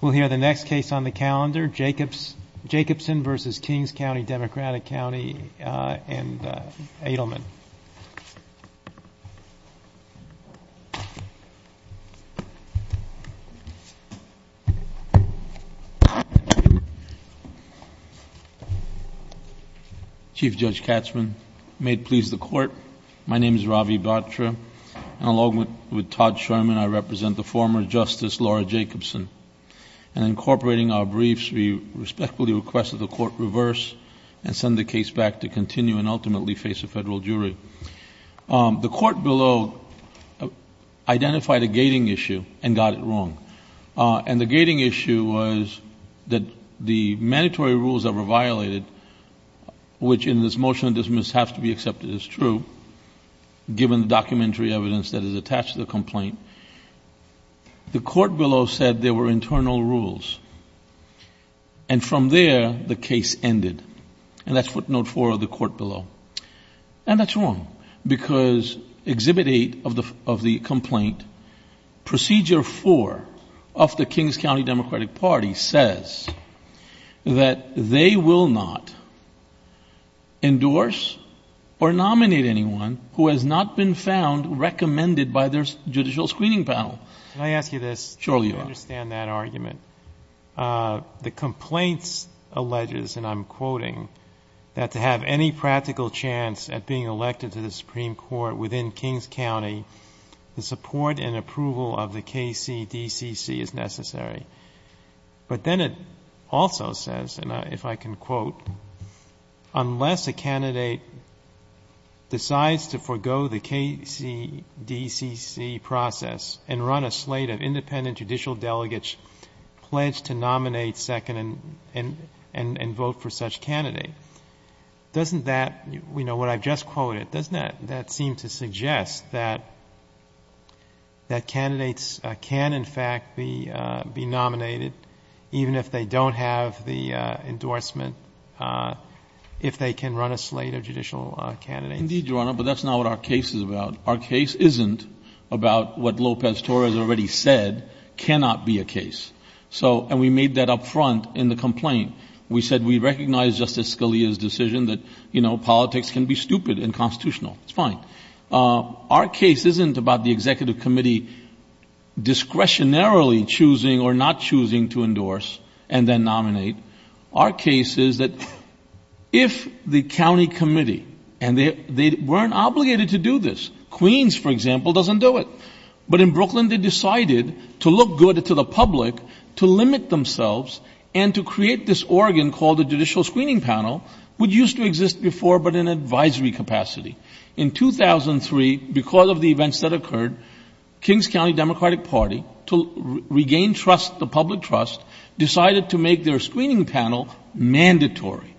We'll hear the next case on the calendar, Jacobson v. Kings County Democratic County and Adelman. Chief Judge Katzmann, may it please the Court, my name is Ravi Batra. Along with Todd Sherman, I represent the former Justice Laura Jacobson. In incorporating our briefs, we respectfully request that the Court reverse and send the case back to continue and ultimately face a federal jury. The Court below identified a gating issue and got it wrong. The gating issue was that the mandatory rules that were violated, which in this motion of dismissal have to be accepted as true, given the documentary evidence that is attached to the complaint, the Court below said there were internal rules. And from there, the case ended. And that's footnote four of the Court below. And that's wrong, because Exhibit 8 of the complaint, Procedure 4 of the Kings County Democratic Party, says that they will not endorse or nominate anyone who has not been found recommended by their judicial screening panel. Can I ask you this? Surely you are. I understand that argument. The complaints alleges, and I'm quoting, that to have any practical chance at being elected to the Supreme Court within Kings County, the support and approval of the KCDCC is necessary. But then it also says, and if I can quote, unless a candidate decides to forego the KCDCC process and run a slate of independent judicial delegates pledged to nominate, second, and vote for such candidate, doesn't that, you know, what I've just quoted, doesn't that seem to suggest that candidates can, in fact, be nominated, even if they don't have the endorsement, if they can run a slate of judicial candidates? Indeed, Your Honor, but that's not what our case is about. Our case isn't about what Lopez Torres already said cannot be a case. So, and we made that up front in the complaint. We said we recognize Justice Scalia's decision that, you know, politics can be stupid and constitutional. It's fine. Our case isn't about the executive committee discretionarily choosing or not choosing to endorse and then nominate. Our case is that if the county committee, and they weren't obligated to do this, Queens, for example, doesn't do it. But in Brooklyn, they decided to look good to the public, to limit themselves, and to create this organ called the Judicial Screening Panel, which used to exist before but in advisory capacity. In 2003, because of the events that occurred, Kings County Democratic Party, to regain trust, the public trust, decided to make their screening panel mandatory.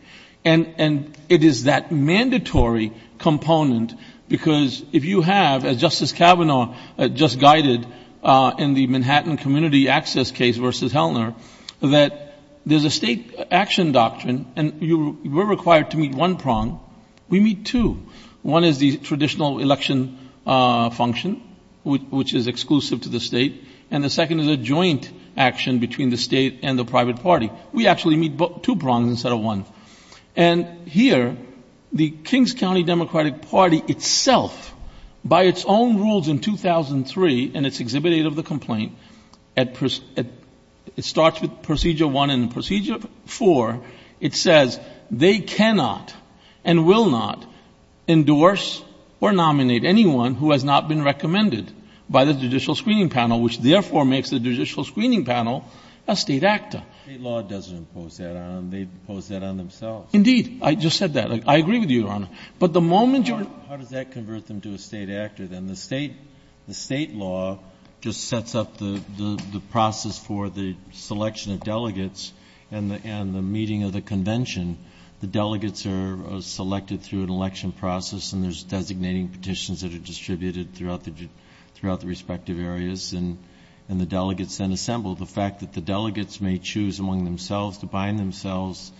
And it is that mandatory component because if you have, as Justice Kavanaugh just guided in the Manhattan Community Access case versus Hellner, that there's a state action doctrine, and we're required to meet one prong. We meet two. One is the traditional election function, which is exclusive to the state, and the second is a joint action between the state and the private party. We actually meet two prongs instead of one. And here, the Kings County Democratic Party itself, by its own rules in 2003, in its Exhibit A of the complaint, it starts with Procedure 1 and Procedure 4, it says they cannot and will not endorse or nominate anyone who has not been recommended by the Judicial Screening Panel, which therefore makes the Judicial Screening Panel a state actor. State law doesn't impose that on them. They impose that on themselves. Indeed. I just said that. I agree with you, Your Honor. How does that convert them to a state actor, then? The state law just sets up the process for the selection of delegates and the meeting of the convention. The delegates are selected through an election process, and there's designating petitions that are distributed throughout the respective areas, and the delegates then assemble. The fact that the delegates may choose among themselves to bind themselves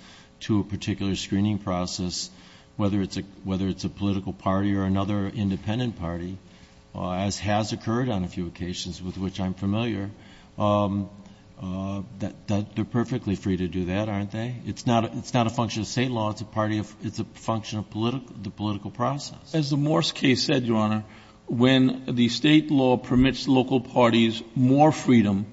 to a particular screening process, whether it's a political party or another independent party, as has occurred on a few occasions with which I'm familiar, they're perfectly free to do that, aren't they? It's not a function of state law. It's a function of the political process. As the Morse case said, Your Honor, when the state law permits local parties more freedom,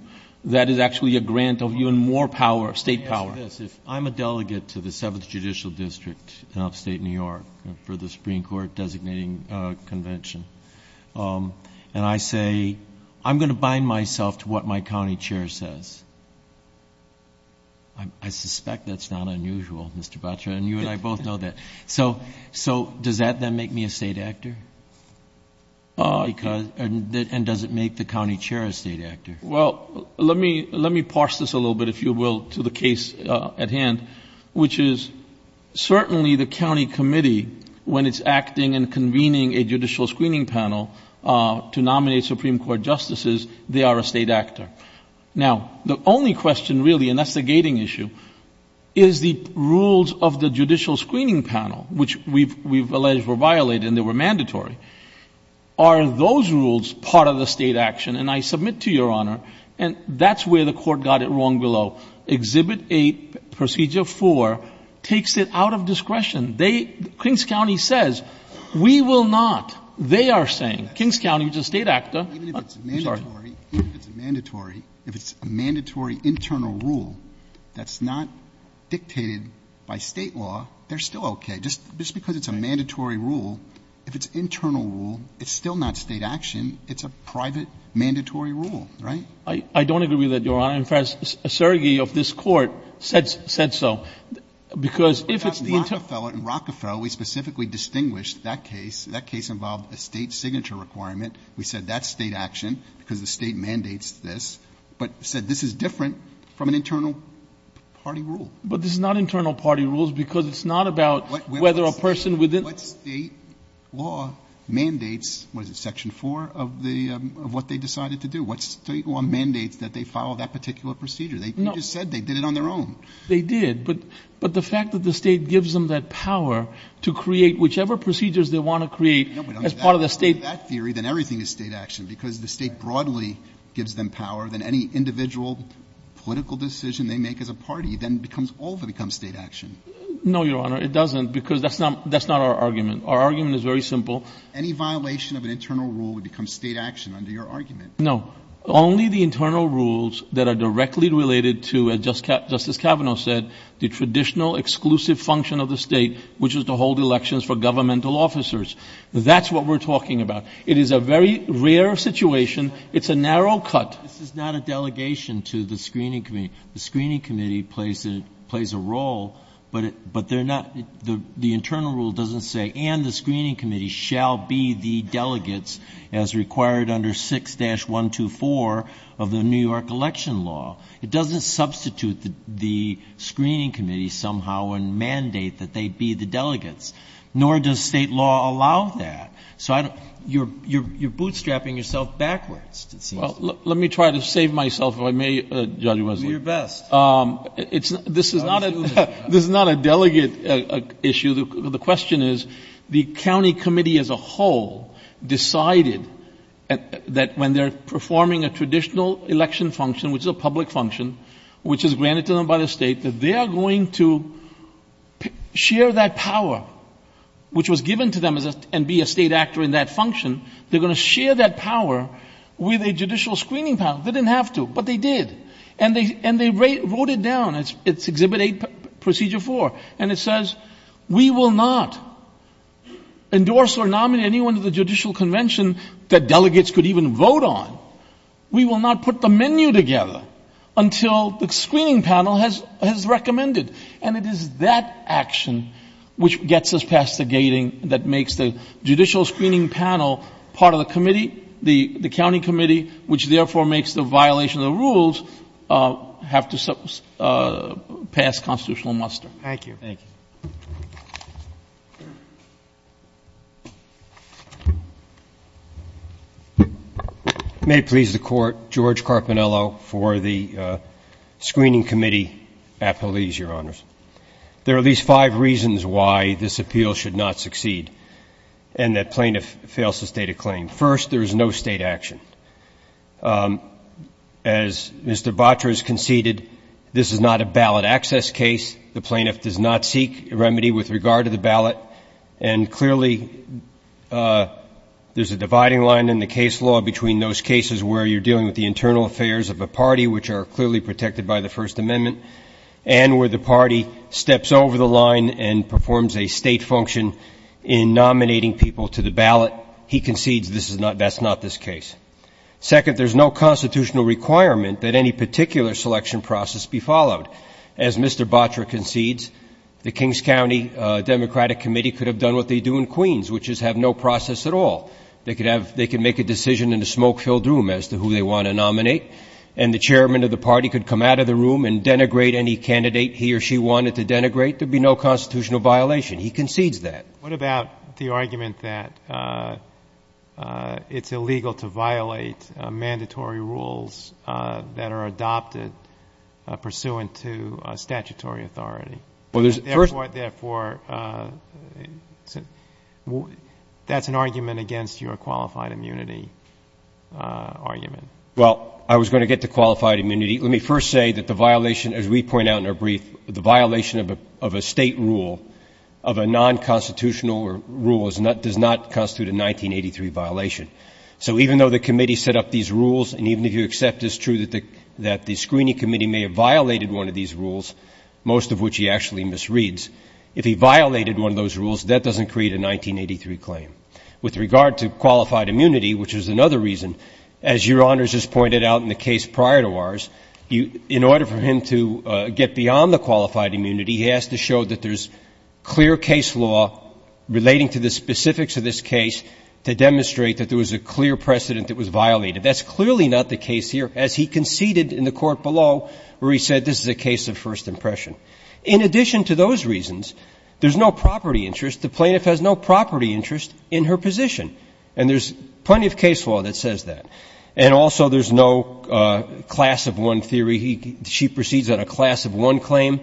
that is actually a grant of even more power, state power. Let me ask you this. If I'm a delegate to the 7th Judicial District in upstate New York for the Supreme Court designating convention, and I say, I'm going to bind myself to what my county chair says, I suspect that's not unusual, Mr. Batra, and you and I both know that. So does that then make me a state actor? And does it make the county chair a state actor? Well, let me parse this a little bit, if you will, to the case at hand, which is certainly the county committee, when it's acting and convening a judicial screening panel to nominate Supreme Court justices, they are a state actor. Now, the only question really, and that's the gating issue, is the rules of the judicial screening panel, which we've alleged were violated and they were mandatory. Are those rules part of the state action? And I submit to Your Honor, and that's where the Court got it wrong below. Exhibit 8, Procedure 4, takes it out of discretion. They, Kings County says, we will not. They are saying, Kings County is a state actor. Even if it's mandatory, if it's a mandatory internal rule that's not dictated by state law, they're still okay. Just because it's a mandatory rule, if it's internal rule, it's still not state action. It's a private mandatory rule, right? I don't agree with that, Your Honor. In fact, a surrogate of this Court said so, because if it's the internal rule. In Rockefeller, we specifically distinguished that case. That case involved a state signature requirement. We said that's state action, because the State mandates this. But said this is different from an internal party rule. But this is not internal party rules, because it's not about whether a person within What State law mandates, what is it, Section 4 of the, of what they decided to do? What State law mandates that they follow that particular procedure? No. You just said they did it on their own. They did. But the fact that the State gives them that power to create whichever procedures they want to create as part of the State If they make that theory, then everything is state action, because the State broadly gives them power. Then any individual political decision they make as a party then becomes, all of it becomes state action. No, Your Honor. It doesn't, because that's not our argument. Our argument is very simple. Any violation of an internal rule would become state action under your argument. No. Only the internal rules that are directly related to, as Justice Kavanaugh said, the traditional exclusive function of the State, which is to hold elections for governmental officers. That's what we're talking about. It is a very rare situation. It's a narrow cut. This is not a delegation to the screening committee. The screening committee plays a role, but they're not, the internal rule doesn't say, and the screening committee shall be the delegates as required under 6-124 of the New York election law. It doesn't substitute the screening committee somehow and mandate that they be the delegates. Nor does state law allow that. So you're bootstrapping yourself backwards, it seems. Well, let me try to save myself, if I may, Judge Wesley. Do your best. This is not a delegate issue. The question is the county committee as a whole decided that when they're performing a traditional election function, which is a public function, which is granted to them by the State, that they are going to share that power, which was given to them and be a State actor in that function, they're going to share that power with a judicial screening panel. They didn't have to, but they did. And they wrote it down. It's Exhibit 8, Procedure 4, and it says, we will not endorse or nominate anyone to the judicial convention that delegates could even vote on. We will not put the menu together until the screening panel has recommended. And it is that action which gets us past the gating that makes the judicial screening panel part of the committee, the county committee, which therefore makes the violation of the rules have to pass constitutional muster. Thank you. Thank you. Thank you. May it please the Court, George Carpinello for the screening committee appellees, Your Honors. There are at least five reasons why this appeal should not succeed and that plaintiff fails to state a claim. First, there is no State action. As Mr. Batra has conceded, this is not a ballot access case. The plaintiff does not seek remedy with regard to the ballot, and clearly there's a dividing line in the case law between those cases where you're dealing with the internal affairs of a party which are clearly protected by the First Amendment and where the party steps over the line and performs a State function in nominating people to the ballot. He concedes this is not, that's not this case. Second, there's no constitutional requirement that any particular selection process be followed. As Mr. Batra concedes, the Kings County Democratic Committee could have done what they do in Queens, which is have no process at all. They could have, they could make a decision in a smoke-filled room as to who they want to nominate, and the chairman of the party could come out of the room and denigrate any candidate he or she wanted to denigrate. There would be no constitutional violation. He concedes that. What about the argument that it's illegal to violate mandatory rules that are adopted pursuant to statutory authority? Therefore, that's an argument against your qualified immunity argument. Well, I was going to get to qualified immunity. Let me first say that the violation, as we point out in our brief, the violation of a State rule, of a nonconstitutional rule does not constitute a 1983 violation. So even though the committee set up these rules, and even if you accept it's true that the screening committee may have violated one of these rules, most of which he actually misreads, if he violated one of those rules, that doesn't create a 1983 claim. With regard to qualified immunity, which is another reason, as Your Honors has pointed out in the case prior to ours, in order for him to get beyond the qualified immunity, he has to show that there's clear case law relating to the specifics of this case to demonstrate that there was a clear precedent that was violated. That's clearly not the case here, as he conceded in the court below, where he said this is a case of first impression. In addition to those reasons, there's no property interest. The plaintiff has no property interest in her position. And there's plenty of case law that says that. And also there's no class of one theory. She proceeds on a class of one claim.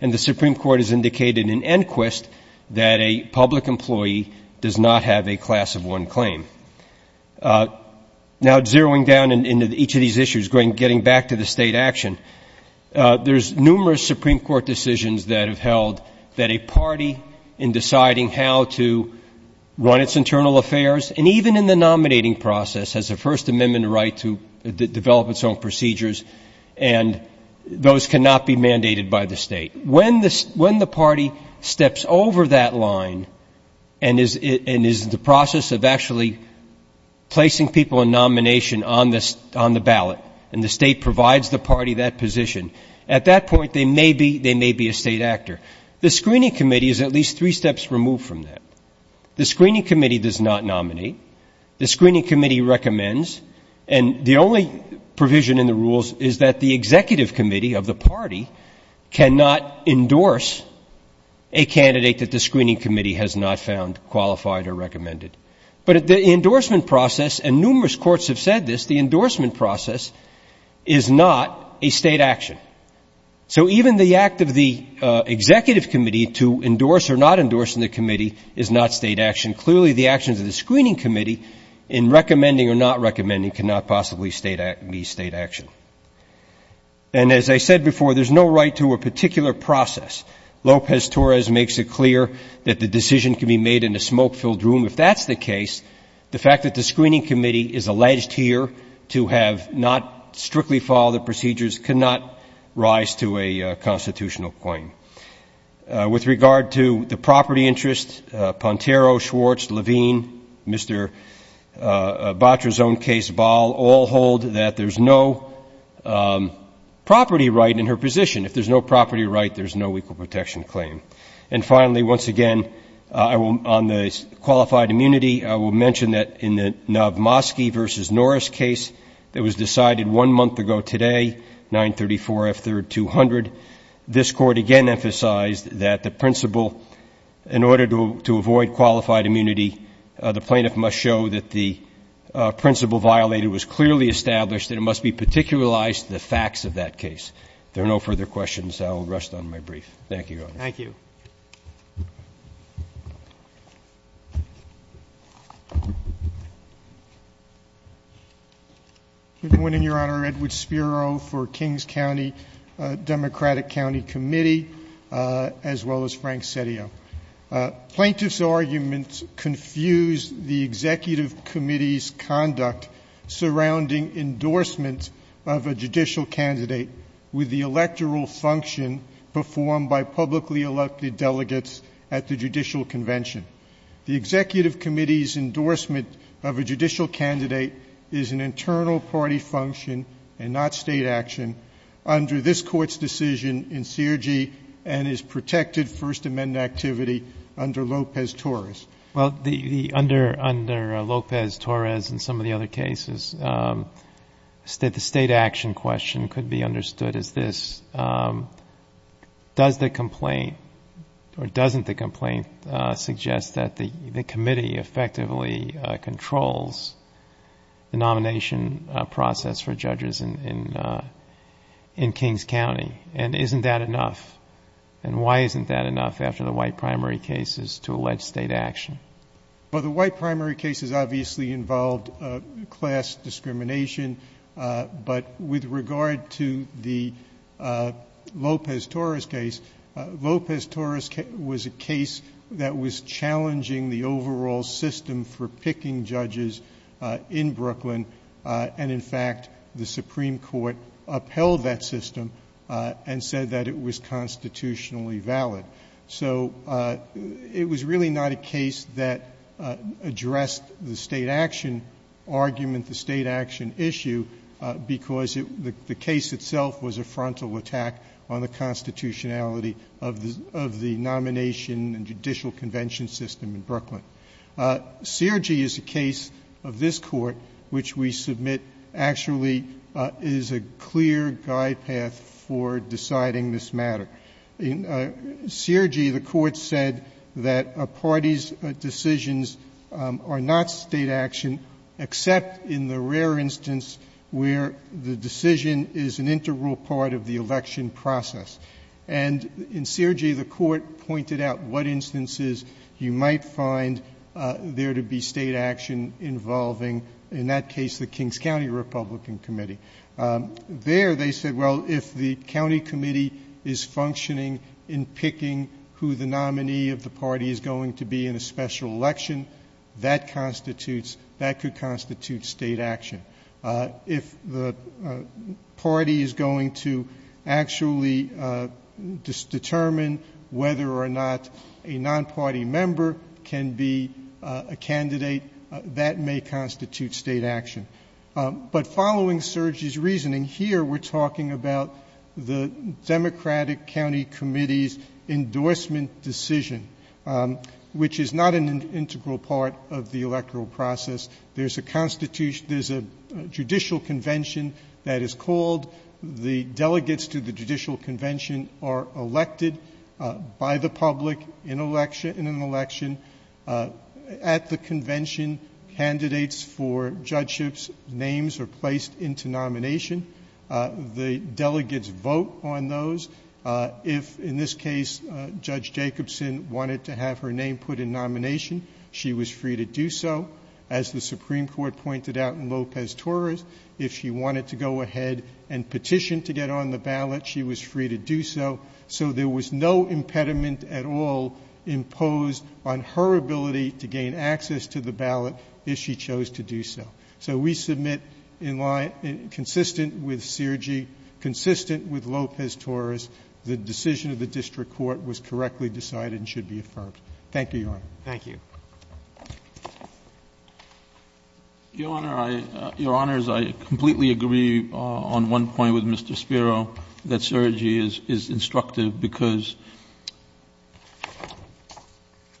And the Supreme Court has indicated in Enquist that a public employee does not have a class of one claim. Now, zeroing down into each of these issues, getting back to the State action, there's numerous Supreme Court decisions that have held that a party in deciding how to run its internal affairs, and even in the nominating process, has a First Amendment right to develop its own procedures, and those cannot be mandated by the State. When the party steps over that line and is in the process of actually placing people in nomination on the ballot, and the State provides the party that position, at that point they may be a State actor. The screening committee is at least three steps removed from that. The screening committee does not nominate. The screening committee recommends. And the only provision in the rules is that the executive committee of the party cannot endorse a candidate that the screening committee has not found qualified or recommended. But the endorsement process, and numerous courts have said this, the endorsement process is not a State action. So even the act of the executive committee to endorse or not endorse in the committee is not State action. Clearly, the actions of the screening committee in recommending or not recommending cannot possibly be State action. And as I said before, there's no right to a particular process. Lopez-Torres makes it clear that the decision can be made in a smoke-filled room. If that's the case, the fact that the screening committee is alleged here to have not strictly followed the procedures cannot rise to a constitutional claim. With regard to the property interest, Pontero, Schwartz, Levine, Mr. Batra's own case, Bahl, all hold that there's no property right in her position. If there's no property right, there's no equal protection claim. And finally, once again, on the qualified immunity, I will mention that in the Novmosky v. Norris case that was decided one month ago today, 934 F. 3rd 200, this Court again emphasized that the principle, in order to avoid qualified immunity, the plaintiff must show that the principle violated was clearly established and it must be particularized to the facts of that case. If there are no further questions, I will rest on my brief. Thank you, Your Honor. Thank you. Thank you. Good morning, Your Honor. Edward Spiro for Kings County Democratic County Committee, as well as Frank Setio. Plaintiff's arguments confuse the Executive Committee's conduct surrounding endorsement of a judicial candidate with the electoral function performed by publicly elected delegates at the judicial convention. The Executive Committee's endorsement of a judicial candidate is an internal party function and not State action under this Court's decision in CRG and is protected First Amendment activity under Lopez-Torres. Well, under Lopez-Torres and some of the other cases, the State action question could be understood as this. Does the complaint or doesn't the complaint suggest that the committee effectively controls the nomination process for judges in Kings County? And isn't that enough? And why isn't that enough after the white primary cases to allege State action? Well, the white primary cases obviously involved class discrimination. But with regard to the Lopez-Torres case, Lopez-Torres was a case that was challenging the overall system for picking judges in Brooklyn. And, in fact, the Supreme Court upheld that system and said that it was constitutionally valid. So it was really not a case that addressed the State action argument, the State action issue, because the case itself was a frontal attack on the constitutionality of the nomination and judicial convention system in Brooklyn. CRG is a case of this Court which we submit actually is a clear guide path for deciding this matter. In CRG, the Court said that a party's decisions are not State action, except in the rare instance where the decision is an integral part of the election process. And in CRG, the Court pointed out what instances you might find there to be State action involving, in that case, the Kings County Republican Committee. There they said, well, if the county committee is functioning in picking who the nominee of the party is going to be in a special election, that constitutes, that could constitute State action. If the party is going to actually determine whether or not a non-party member can be a candidate, that may constitute State action. But following CRG's reasoning, here we're talking about the Democratic County Committee's endorsement decision, which is not an integral part of the electoral process. There's a judicial convention that is called. The delegates to the judicial convention are elected by the public in an election. At the convention, candidates for judgeships' names are placed into nomination. The delegates vote on those. If, in this case, Judge Jacobson wanted to have her name put in nomination, she was free to do so. As the Supreme Court pointed out in Lopez-Torres, if she wanted to go ahead and petition to get on the ballot, she was free to do so. So there was no impediment at all imposed on her ability to gain access to the ballot if she chose to do so. So we submit in line, consistent with CRG, consistent with Lopez-Torres, the decision of the district court was correctly decided and should be affirmed. Thank you, Your Honor. Thank you. Your Honor, I completely agree on one point with Mr. Spiro, that CRG is instructive, because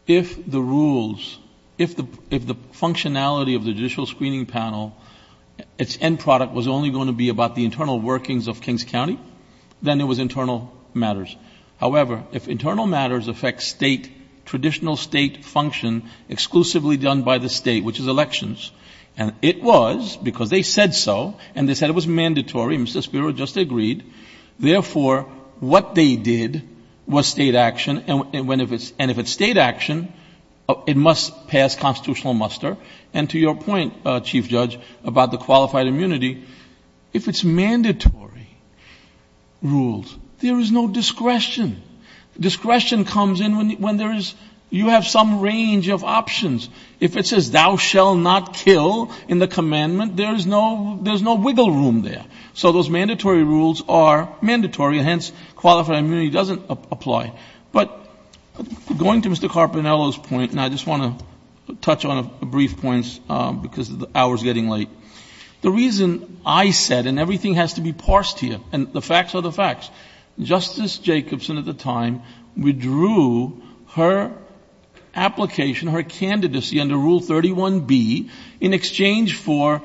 if the rules, if the functionality of the judicial screening panel, its end product was only going to be about the internal workings of Kings County, then it was internal matters. However, if internal matters affect state, traditional state function exclusively done by the state, which is elections, and it was because they said so, and they said it was mandatory, Mr. Spiro just agreed, therefore what they did was state action, and if it's state action, it must pass constitutional muster. And to your point, Chief Judge, about the qualified immunity, if it's mandatory rules, there is no discretion. Discretion comes in when there is, you have some range of options. If it says thou shall not kill in the commandment, there is no wiggle room there. So those mandatory rules are mandatory, and hence qualified immunity doesn't apply. But going to Mr. Carpinello's point, and I just want to touch on a brief point because the hour is getting late, the reason I said, and everything has to be parsed here, and the facts are the facts, Justice Jacobson at the time withdrew her application, her candidacy under Rule 31B, in exchange for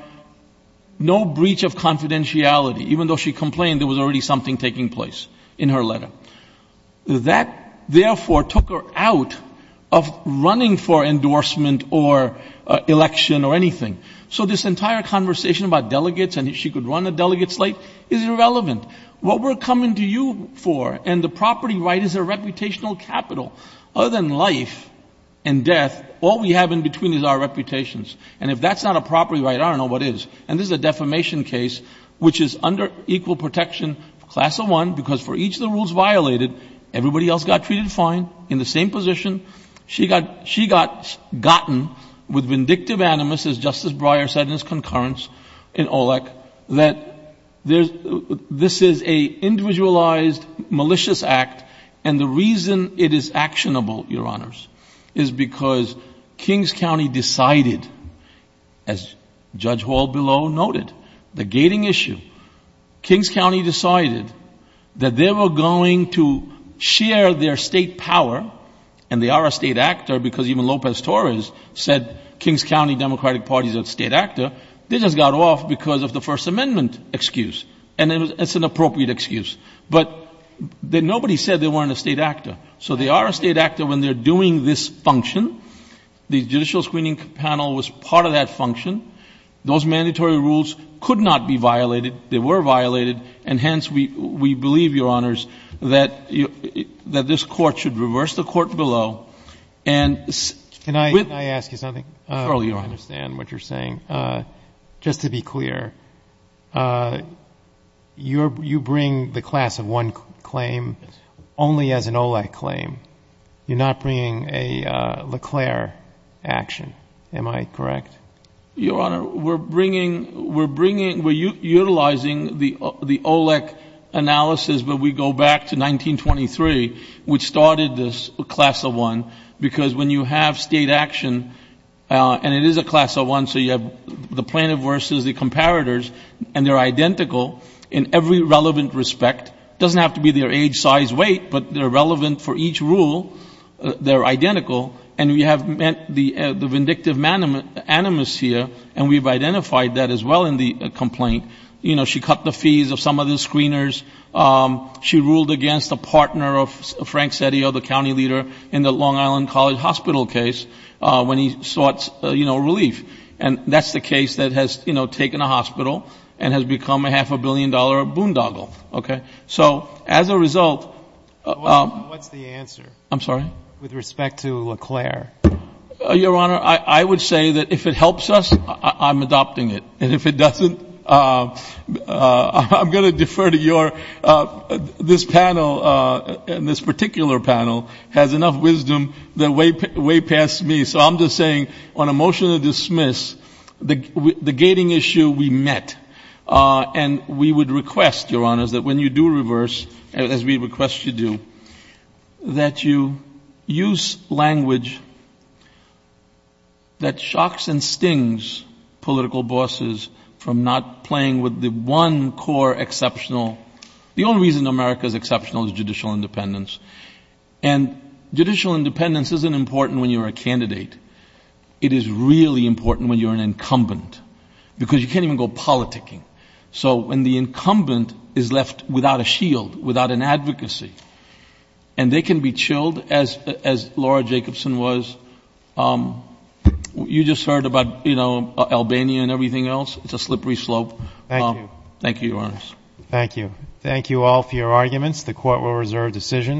no breach of confidentiality, even though she complained there was already something taking place in her letter. That, therefore, took her out of running for endorsement or election or anything. So this entire conversation about delegates and if she could run a delegate slate is irrelevant. What we're coming to you for and the property right is a reputational capital. Other than life and death, all we have in between is our reputations. And if that's not a property right, I don't know what is. And this is a defamation case which is under equal protection, Class of 1, because for each of the rules violated, everybody else got treated fine in the same position. She got gotten with vindictive animus, as Justice Breyer said in his concurrence in OLEC, that this is an individualized, malicious act, and the reason it is actionable, Your Honors, is because Kings County decided, as Judge Hall below noted, the gating issue. Kings County decided that they were going to share their state power and they are a state actor because even Lopez Torres said Kings County Democratic Party is a state actor. They just got off because of the First Amendment excuse, and it's an appropriate excuse. But nobody said they weren't a state actor. So they are a state actor when they're doing this function. The Judicial Screening Panel was part of that function. Those mandatory rules could not be violated. They were violated, and hence we believe, Your Honors, that this court should reverse the court below. Can I ask you something? Surely, Your Honor. I understand what you're saying. Just to be clear, you bring the Class of 1 claim only as an OLEC claim. You're not bringing a LeClaire action. Am I correct? Your Honor, we're utilizing the OLEC analysis, but we go back to 1923, which started this Class of 1, because when you have state action, and it is a Class of 1, so you have the plaintiff versus the comparators, and they're identical in every relevant respect. It doesn't have to be their age, size, weight, but they're relevant for each rule. They're identical, and we have met the vindictive animus here, and we've identified that as well in the complaint. She cut the fees of some of the screeners. She ruled against a partner of Frank Settio, the county leader, in the Long Island College Hospital case when he sought relief. And that's the case that has taken a hospital and has become a half-a-billion-dollar boondoggle. Okay? So, as a result. What's the answer? I'm sorry? With respect to LeClaire. Your Honor, I would say that if it helps us, I'm adopting it. And if it doesn't, I'm going to defer to your — this panel, this particular panel, has enough wisdom way past me. So I'm just saying, on a motion to dismiss, the gating issue we met. And we would request, Your Honors, that when you do reverse, as we request you do, that you use language that shocks and stings political bosses from not playing with the one core exceptional — the only reason America is exceptional is judicial independence. And judicial independence isn't important when you're a candidate. It is really important when you're an incumbent. Because you can't even go politicking. So when the incumbent is left without a shield, without an advocacy, and they can be chilled, as Laura Jacobson was. You just heard about, you know, Albania and everything else. It's a slippery slope. Thank you. Thank you. Thank you all for your arguments. The court will reserve decision.